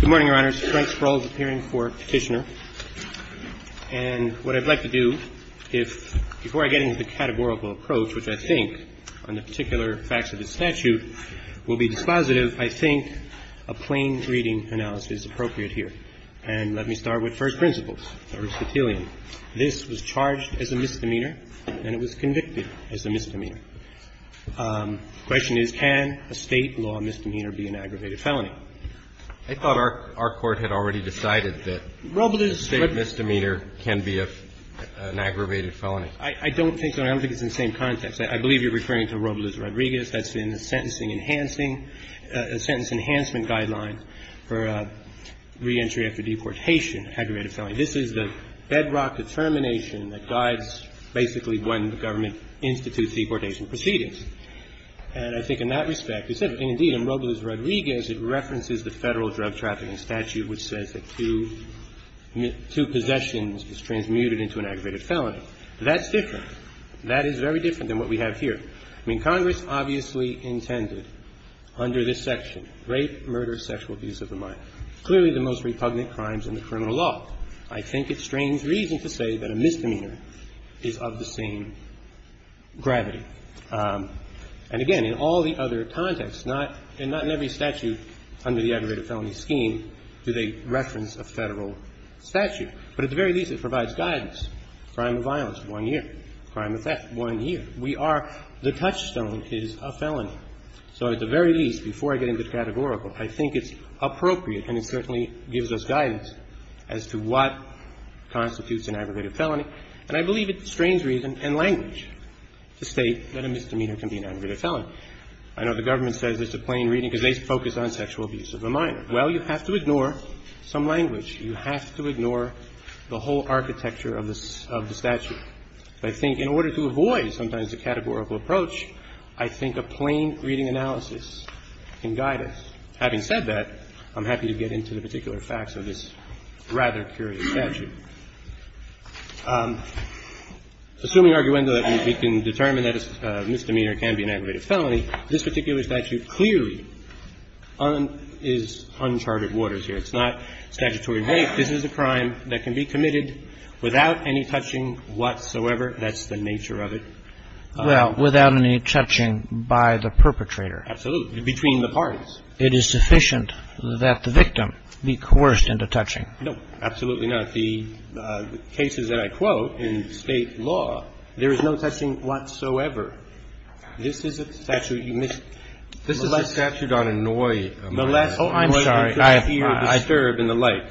Good morning, Your Honors. Frank Sproul is appearing for Petitioner. And what I'd like to do, if before I get into the categorical approach, which I think on the particular facts of the statute will be dispositive, I think a plain reading analysis is appropriate here. And let me start with first principles, Aristotelian. This was charged as a misdemeanor and it was convicted as a misdemeanor. The question is, can a State law misdemeanor be an aggravated felony? I thought our Court had already decided that a State misdemeanor can be an aggravated felony. I don't think so. I don't think it's in the same context. I believe you're referring to Robles-Rodriguez. That's in the Sentencing Enhancing – Sentence Enhancement Guideline for Reentry After Deportation, Aggravated Felony. This is the bedrock determination that guides basically when the government institutes deportation proceedings. And I think in that respect, and indeed in Robles-Rodriguez, it references the Federal Drug Trafficking Statute, which says that two – two possessions is transmuted into an aggravated felony. That's different. That is very different than what we have here. I mean, Congress obviously intended under this section, rape, murder, sexual abuse of the mind, clearly the most repugnant crimes in the criminal law. I think it's strange reason to say that a misdemeanor is of the same gravity. And again, in all the other contexts, not – and not in every statute under the aggravated felony scheme do they reference a Federal statute. But at the very least, it provides guidance. Crime of violence, one year. Crime of theft, one year. We are – the touchstone is a felony. So at the very least, before I get into the categorical, I think it's appropriate and it certainly gives us guidance as to what constitutes an aggravated felony. And I believe it's strange reason and language to state that a misdemeanor can be an aggravated felony. I know the government says it's a plain reading because they focus on sexual abuse of the mind. Well, you have to ignore some language. You have to ignore the whole architecture of the – of the statute. I think in order to avoid sometimes a categorical approach, I think a plain reading analysis can guide us. Having said that, I'm happy to get into the particular facts of this rather curious statute. Assuming arguendo that we can determine that a misdemeanor can be an aggravated felony, this particular statute clearly is uncharted waters here. It's not statutory rape. This is a crime that can be committed without any touching whatsoever. That's the nature of it. Well, without any touching by the perpetrator. Absolutely. Between the parties. It is sufficient that the victim be coerced into touching. No, absolutely not. The cases that I quote in State law, there is no touching whatsoever. This is a statute you missed. This is a statute on annoyance. Oh, I'm sorry.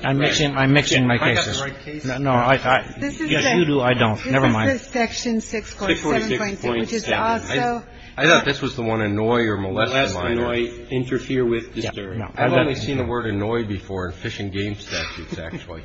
I'm mixing my cases. Yes, you do. I don't. Never mind. Section 6.7.7, which is also. I thought this was the one annoy or molest. Interfere with. I've only seen the word annoy before in fish and game statutes, actually.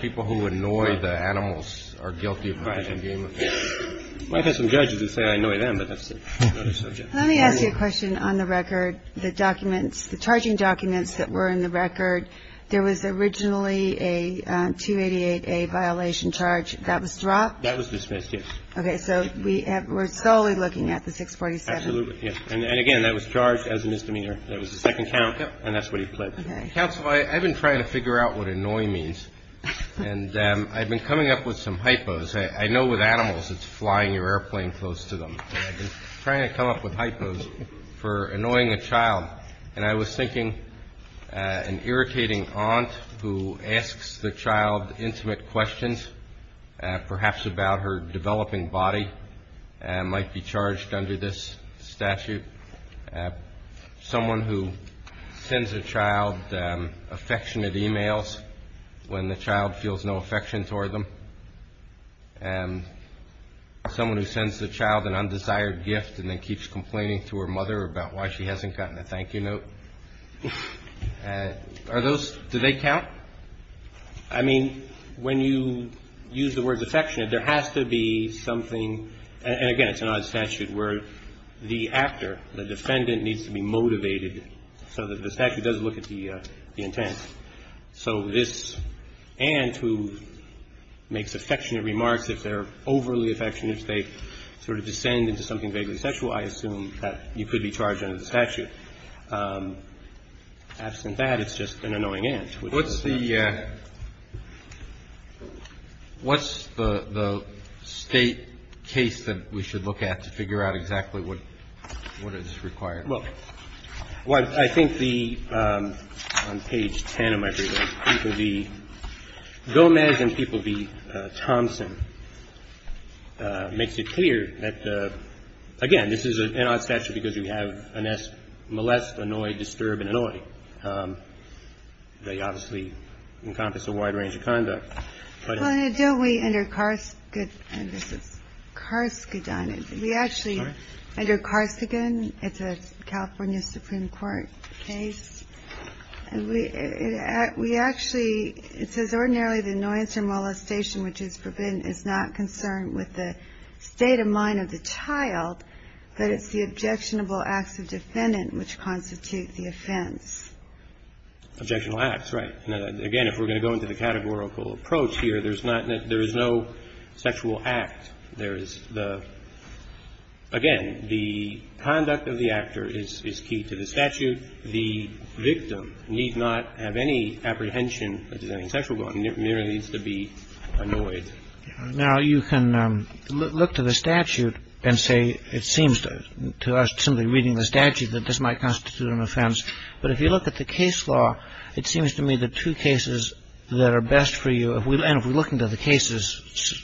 People who annoy the animals are guilty of fish and game offense. I've had some judges that say I annoy them, but that's another subject. Let me ask you a question on the record. The documents, the charging documents that were in the record, there was originally a 288A violation charge. That was dropped? That was dismissed, yes. Okay. So we're solely looking at the 647. Absolutely. And again, that was charged as a misdemeanor. That was the second count. And that's what he pled. Counsel, I've been trying to figure out what annoy means. And I've been coming up with some hypos. I know with animals, it's flying your airplane close to them. But I've been trying to come up with hypos for annoying a child. And I was thinking an irritating aunt who asks the child intimate questions, perhaps about her developing body, might be charged under this statute. Someone who sends a child affectionate e-mails when the child feels no affection toward them. Someone who sends the child an undesired gift and then keeps complaining to her mother about why she hasn't gotten a thank you note. Are those, do they count? I mean, when you use the word affectionate, there has to be something. And again, it's an odd statute where the actor, the defendant, needs to be motivated so that the statute does look at the intent. So this aunt who makes affectionate remarks, if they're overly affectionate, if they sort of descend into something vaguely sexual, I assume that you could be charged under the statute. Absent that, it's just an annoying aunt. What's the State case that we should look at to figure out exactly what is required? Well, I think the, on page 10 of my briefing, people be Gomez and people be Thompson makes it clear that, again, this is an odd statute because you have molest, annoy, disturb, and annoy. They obviously encompass a wide range of conduct. Well, don't we, under Karskadon, we actually, under Karskadon, it's a California Supreme Court case, and we actually, it says ordinarily the annoyance or molestation which is forbidden is not concerned with the state of mind of the child, but it's the objectionable acts of defendant which constitute the offense. Objectionable acts, right. Now, again, if we're going to go into the categorical approach here, there's not, there is no sexual act. There is the, again, the conduct of the actor is key to the statute. The victim need not have any apprehension that there's any sexual going on. It merely needs to be annoyed. Now, you can look to the statute and say it seems to us, simply reading the statute, that this might constitute an offense. But if you look at the case law, it seems to me the two cases that are best for you, and if we look into the cases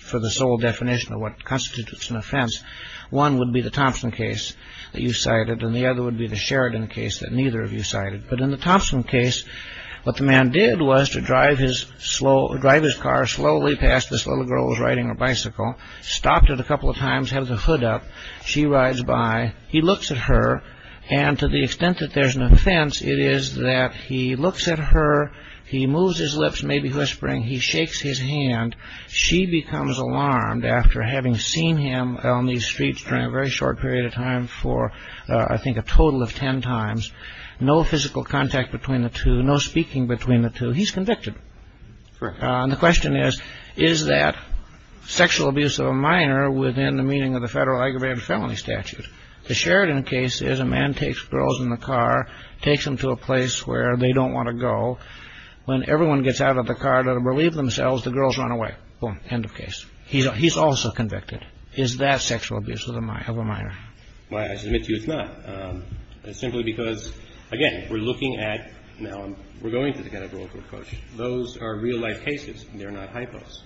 for the sole definition of what constitutes an offense, one would be the Thompson case that you cited, and the other would be the Sheridan case that neither of you cited. But in the Thompson case, what the man did was to drive his car slowly past this little girl who was riding her bicycle, stopped it a couple of times, had the hood up, she rides by, he looks at her, and to the extent that there's an offense, it is that he looks at her, he moves his lips, maybe whispering, he shakes his hand. She becomes alarmed after having seen him on these streets during a very short period of time for, I think, a total of ten times. No physical contact between the two, no speaking between the two. He's convicted. And the question is, is that sexual abuse of a minor within the meaning of the federal aggravated felony statute? The Sheridan case is a man takes girls in the car, takes them to a place where they don't want to go. When everyone gets out of the car to relieve themselves, the girls run away. Boom. End of case. He's also convicted. Is that sexual abuse of a minor? Why, I submit to you it's not. It's simply because, again, we're looking at now, we're going to the categorical approach. Those are real-life cases. They're not hypos.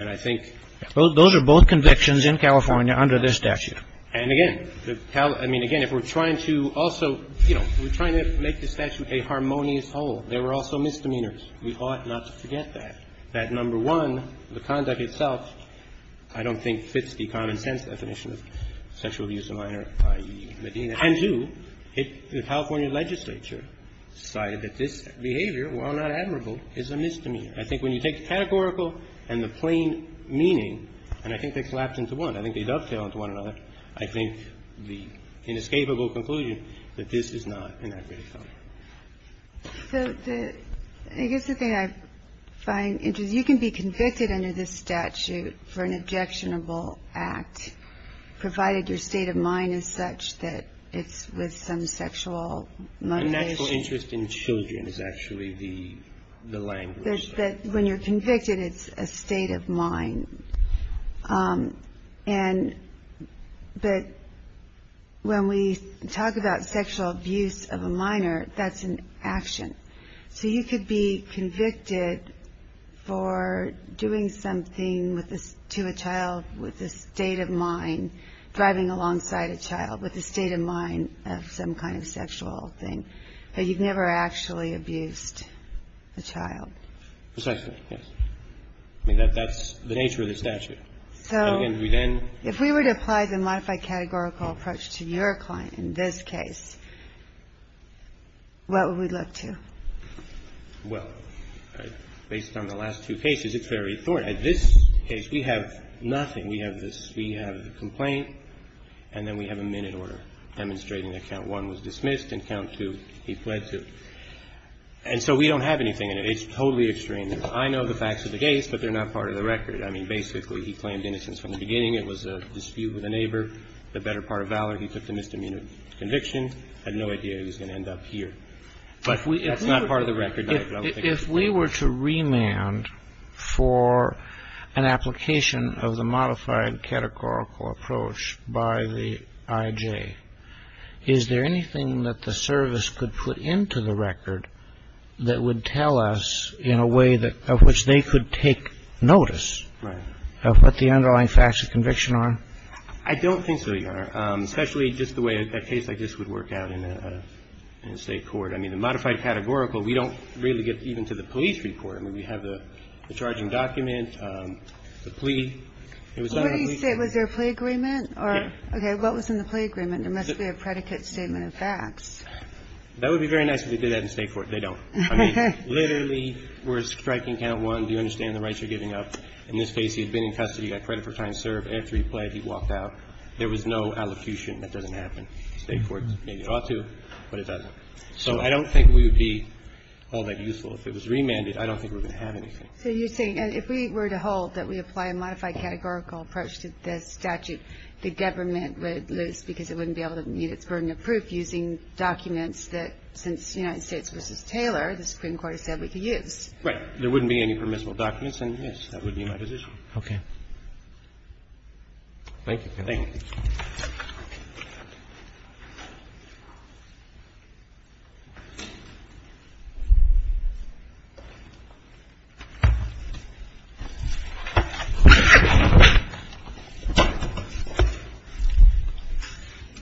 And I think... Those are both convictions in California under this statute. And, again, I mean, again, if we're trying to also, you know, we're trying to make the statute a harmonious whole, there were also misdemeanors. We ought not to forget that, that, number one, the conduct itself, I don't think, fits the common-sense definition of sexual abuse of a minor, i.e., Medina. And, two, the California legislature decided that this behavior, while not admirable, is a misdemeanor. I think when you take the categorical and the plain meaning, and I think they collapse into one. I think they dovetail into one another. I think the inescapable conclusion that this is not an act of sexual abuse. So the... I guess the thing I find interesting, you can be convicted under this statute for an objectionable act, provided your state of mind is such that it's with some sexual motivation. Natural interest in children is actually the language. That when you're convicted, it's a state of mind. And that when we talk about sexual abuse of a minor, that's an action. So you could be convicted for doing something to a child with a state of mind, driving alongside a child with a state of mind of some kind of sexual thing. But you've never actually abused a child. Precisely, yes. I mean, that's the nature of the statute. So if we were to apply the modified categorical approach to your client in this case, what would we look to? Well, based on the last two cases, it's very important. In this case, we have nothing. We have this. We have the complaint, and then we have a minute order demonstrating that count one was dismissed and count two he pled to. And so we don't have anything in it. It's totally extreme. I know the facts of the case, but they're not part of the record. I mean, basically, he claimed innocence from the beginning. It was a dispute with a neighbor. The better part of valor, he took the misdemeanor conviction. Had no idea he was going to end up here. But it's not part of the record. If we were to remand for an application of the modified categorical approach by the IJ, is there anything that the service could put into the record that would tell us in a way that of which they could take notice of what the underlying facts of conviction are? I don't think so, Your Honor, especially just the way a case like this would work out in a state court. I mean, the modified categorical, we don't really get even to the police report. I mean, we have the charging document, the plea. It was not a plea. Was there a plea agreement? Okay. What was in the plea agreement? There must be a predicate statement of facts. That would be very nice if they did that in a state court. They don't. I mean, literally, we're striking count one. Do you understand the rights you're giving up? In this case, he had been in custody, got credit for trying to serve. After he pled, he walked out. There was no allocution. That doesn't happen in state courts. Maybe it ought to, but it doesn't. So I don't think we would be all that useful. If it was remanded, I don't think we're going to have anything. So you're saying if we were to hold that we apply a modified categorical approach to this statute, the government would lose because it wouldn't be able to meet its burden of proof using documents that, since United States v. Taylor, the Supreme Court said we could use. Right. There wouldn't be any permissible documents, and, yes, that would be my position. Okay. Thank you. Thank you.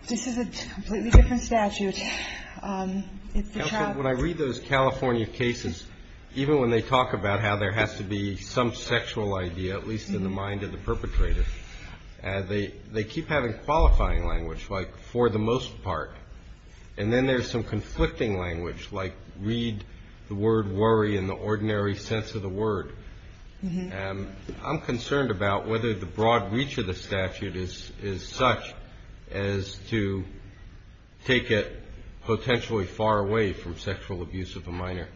This is a completely different statute. It's the child's. Counsel, when I read those California cases, even when they talk about how there has to be some sexual idea, at least in the mind of the perpetrator, they keep the mind of the perpetrator. They don't have a qualifying language, like for the most part. And then there's some conflicting language, like read the word worry in the ordinary sense of the word. I'm concerned about whether the broad reach of the statute is such as to take it potentially far away from sexual abuse of a minor.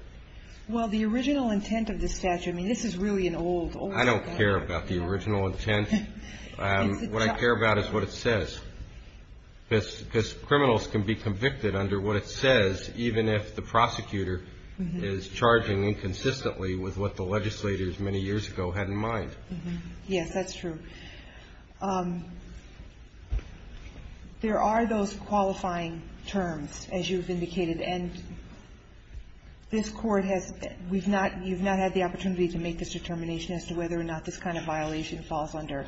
Well, the original intent of the statute, I mean, this is really an old, old. I don't care about the original intent. What I care about is what it says. Because criminals can be convicted under what it says, even if the prosecutor is charging inconsistently with what the legislators many years ago had in mind. Yes, that's true. There are those qualifying terms, as you've indicated. And this Court has been you've not had the opportunity to make this determination as to whether or not this kind of violation falls under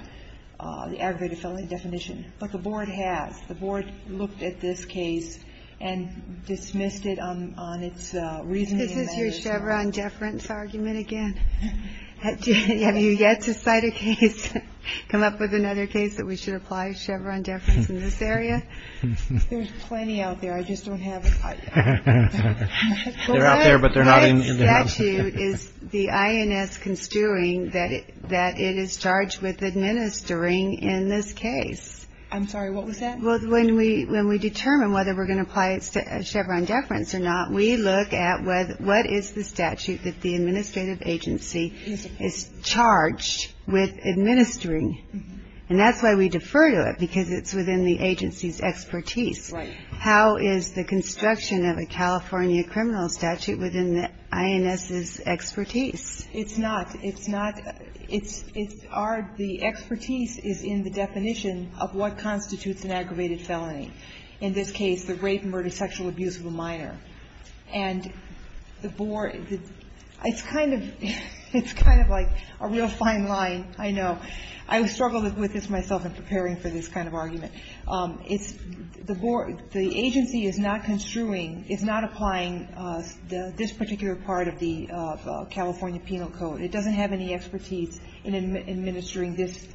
the aggregated felony definition. But the Board has. The Board looked at this case and dismissed it on its reasoning and measure. This is your Chevron deference argument again. Have you yet to cite a case, come up with another case that we should apply Chevron deference in this area? There's plenty out there. I just don't have it. The statute is the INS construing that it is charged with administering in this case. I'm sorry. What was that? When we determine whether we're going to apply Chevron deference or not, we look at what is the statute that the administrative agency is charged with administering. And that's why we defer to it, because it's within the agency's expertise. Right. How is the construction of a California criminal statute within the INS's expertise? It's not. It's not. It's our, the expertise is in the definition of what constitutes an aggravated felony, in this case the rape, murder, sexual abuse of a minor. And the Board, it's kind of, it's kind of like a real fine line, I know. I struggled with this myself in preparing for this kind of argument. It's the Board, the agency is not construing, is not applying this particular part of the California Penal Code. It doesn't have any expertise in administering this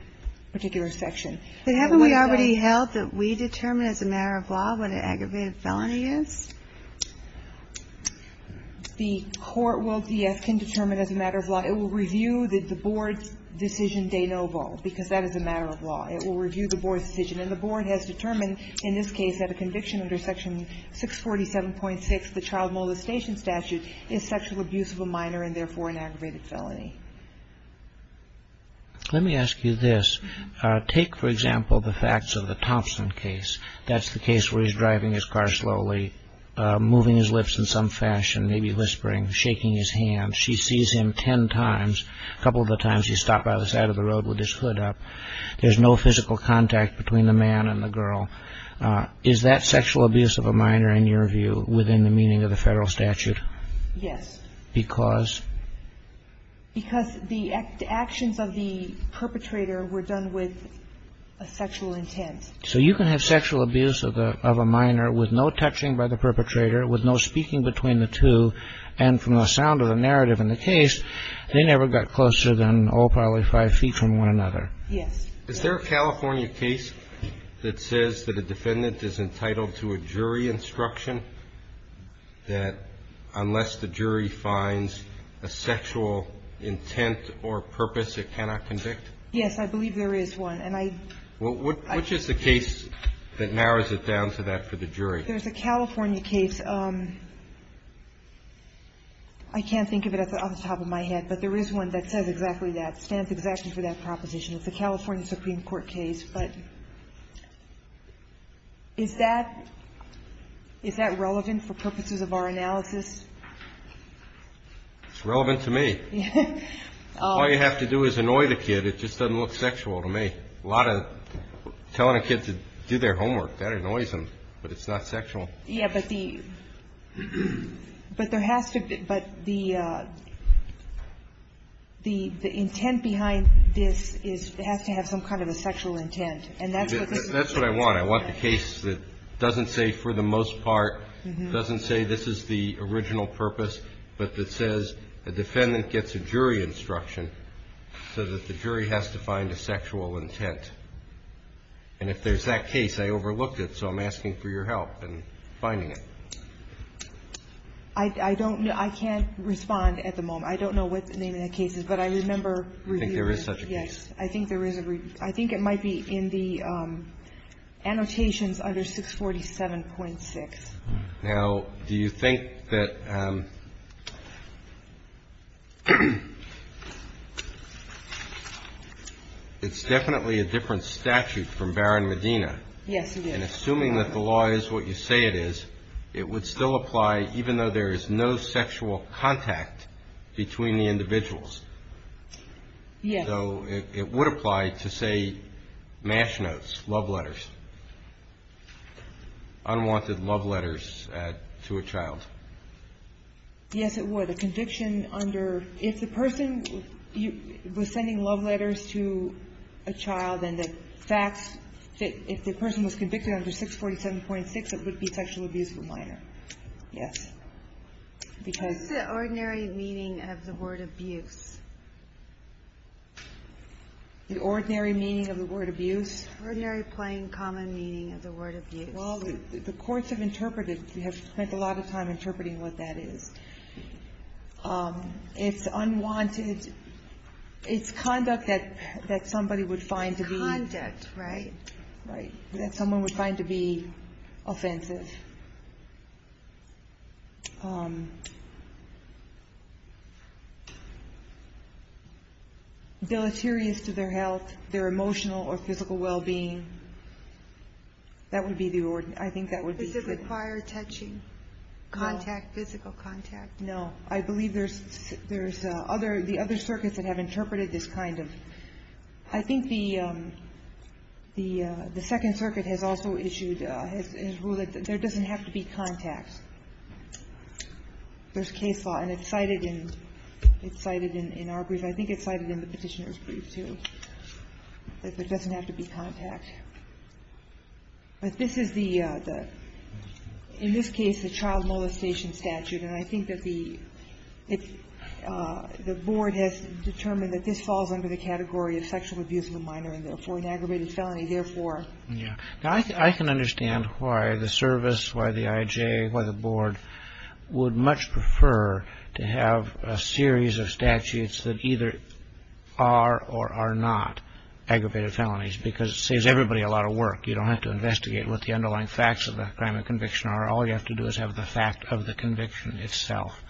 particular section. But haven't we already held that we determine as a matter of law what an aggravated felony is? The court will, yes, can determine as a matter of law. It will review the Board's decision de novo, because that is a matter of law. It will review the Board's decision. And the Board has determined in this case that a conviction under Section 647.6, the Child Molestation Statute, is sexual abuse of a minor and therefore an aggravated felony. Let me ask you this. Take, for example, the facts of the Thompson case. That's the case where he's driving his car slowly, moving his lips in some fashion, maybe whispering, shaking his hand. She sees him ten times. A couple of the times he's stopped by the side of the road with his hood up. There's no physical contact between the man and the girl. Is that sexual abuse of a minor, in your view, within the meaning of the Federal statute? Yes. Because? Because the actions of the perpetrator were done with a sexual intent. So you can have sexual abuse of a minor with no touching by the perpetrator, with no speaking between the two, and from the sound of the narrative in the case, they never got closer than, oh, probably five feet from one another. Yes. Is there a California case that says that a defendant is entitled to a jury instruction that unless the jury finds a sexual intent or purpose, it cannot convict? Yes. I believe there is one. And I – Which is the case that narrows it down to that for the jury? There's a California case. I can't think of it off the top of my head, but there is one that says exactly that, stands exactly for that proposition. It's a California Supreme Court case. But is that relevant for purposes of our analysis? It's relevant to me. All you have to do is annoy the kid. It just doesn't look sexual to me. A lot of telling a kid to do their homework, that annoys them. But it's not sexual. Yeah, but the – but there has to be – but the intent behind this is it has to have some kind of a sexual intent. And that's what this is. That's what I want. I want the case that doesn't say for the most part, doesn't say this is the original purpose, but that says a defendant gets a jury instruction so that the jury has to find a sexual intent. And if there's that case, I overlooked it, so I'm asking for your help in finding it. I don't know. I can't respond at the moment. I don't know what the name of that case is, but I remember reviewing it. You think there is such a case? Yes. I think there is a – I think it might be in the annotations under 647.6. Now, do you think that – it's definitely a different statute from Barron-Medina. Yes, it is. And assuming that the law is what you say it is, it would still apply even though there is no sexual contact between the individuals. Yes. So it would apply to, say, match notes, love letters, unwanted love letters to a child. Yes, it would. A conviction under – if the person was sending love letters to a child and the facts – if the person was convicted under 647.6, it would be sexual abuse of a minor. Yes. What's the ordinary meaning of the word abuse? The ordinary meaning of the word abuse? Ordinary, plain, common meaning of the word abuse. Well, the courts have interpreted – have spent a lot of time interpreting what that is. It's unwanted – it's conduct that somebody would find to be – Conduct, right. That someone would find to be offensive, deleterious to their health, their emotional or physical well-being. That would be the ordinary – I think that would be the ordinary. Does it require touching, contact, physical contact? No. I believe there's other – the other circuits that have interpreted this kind of – I think the Second Circuit has also issued – has ruled that there doesn't have to be contact. There's case law, and it's cited in – it's cited in our brief. I think it's cited in the Petitioner's Brief, too, that there doesn't have to be contact. But this is the – in this case, the child molestation statute, and I think that the – the Board has determined that this falls under the category of sexual abuse of a minor and therefore an aggravated felony, therefore. Yeah. I can understand why the service, why the IJ, why the Board would much prefer to have a series of statutes that either are or are not aggravated felonies because it saves everybody a lot of work. You don't have to investigate what the underlying facts of the crime and conviction are. All you have to do is have the fact of the conviction itself.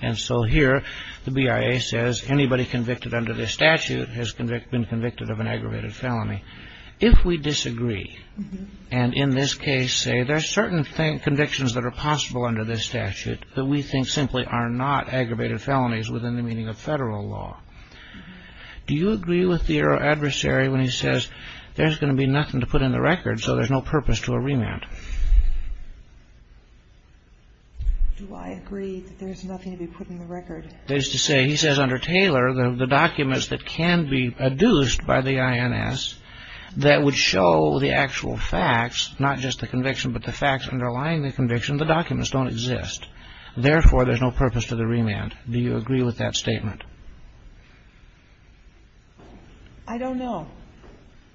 And so here, the BIA says anybody convicted under this statute has been convicted of an aggravated felony. If we disagree, and in this case say there are certain convictions that are possible under this statute that we think simply are not aggravated felonies within the meaning of federal law, do you agree with the adversary when he says there's going to be nothing to put in the record, so there's no purpose to a remand? Do I agree that there's nothing to be put in the record? That is to say, he says under Taylor, the documents that can be adduced by the INS, that would show the actual facts, not just the conviction, but the facts underlying the conviction, the documents don't exist. Therefore, there's no purpose to the remand. Do you agree with that statement? I don't know.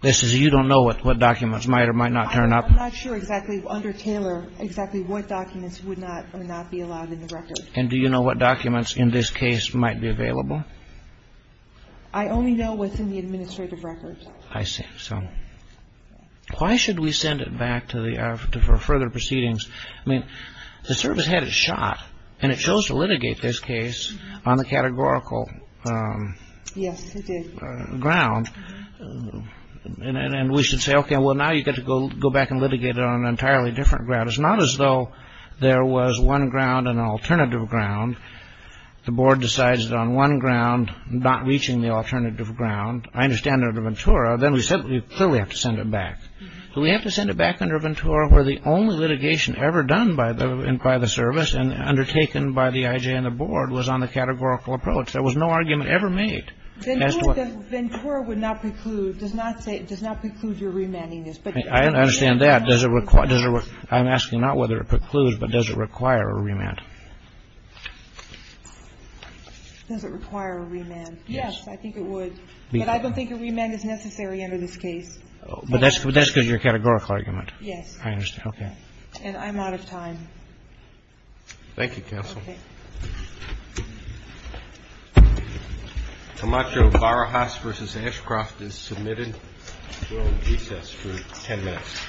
This is you don't know what documents might or might not turn up? I'm not sure exactly under Taylor exactly what documents would not be allowed in the record. And do you know what documents in this case might be available? I only know what's in the administrative records. I see. So why should we send it back for further proceedings? I mean, the service had it shot, and it chose to litigate this case on the categorical ground. And we should say, okay, well, now you get to go back and litigate it on an entirely different ground. It's not as though there was one ground and an alternative ground. The board decides on one ground, not reaching the alternative ground. I understand under Ventura, then we clearly have to send it back. Do we have to send it back under Ventura where the only litigation ever done by the service and undertaken by the IJ and the board was on the categorical approach? There was no argument ever made. Ventura would not preclude, does not preclude your remanding this. I understand that. I'm asking not whether it precludes, but does it require a remand? Does it require a remand? Yes. I think it would. But I don't think a remand is necessary under this case. But that's because of your categorical argument. Yes. I understand. Okay. And I'm out of time. Thank you, counsel. Okay. Comacho, Barahas versus Ashcroft is submitted. We will recess for ten minutes.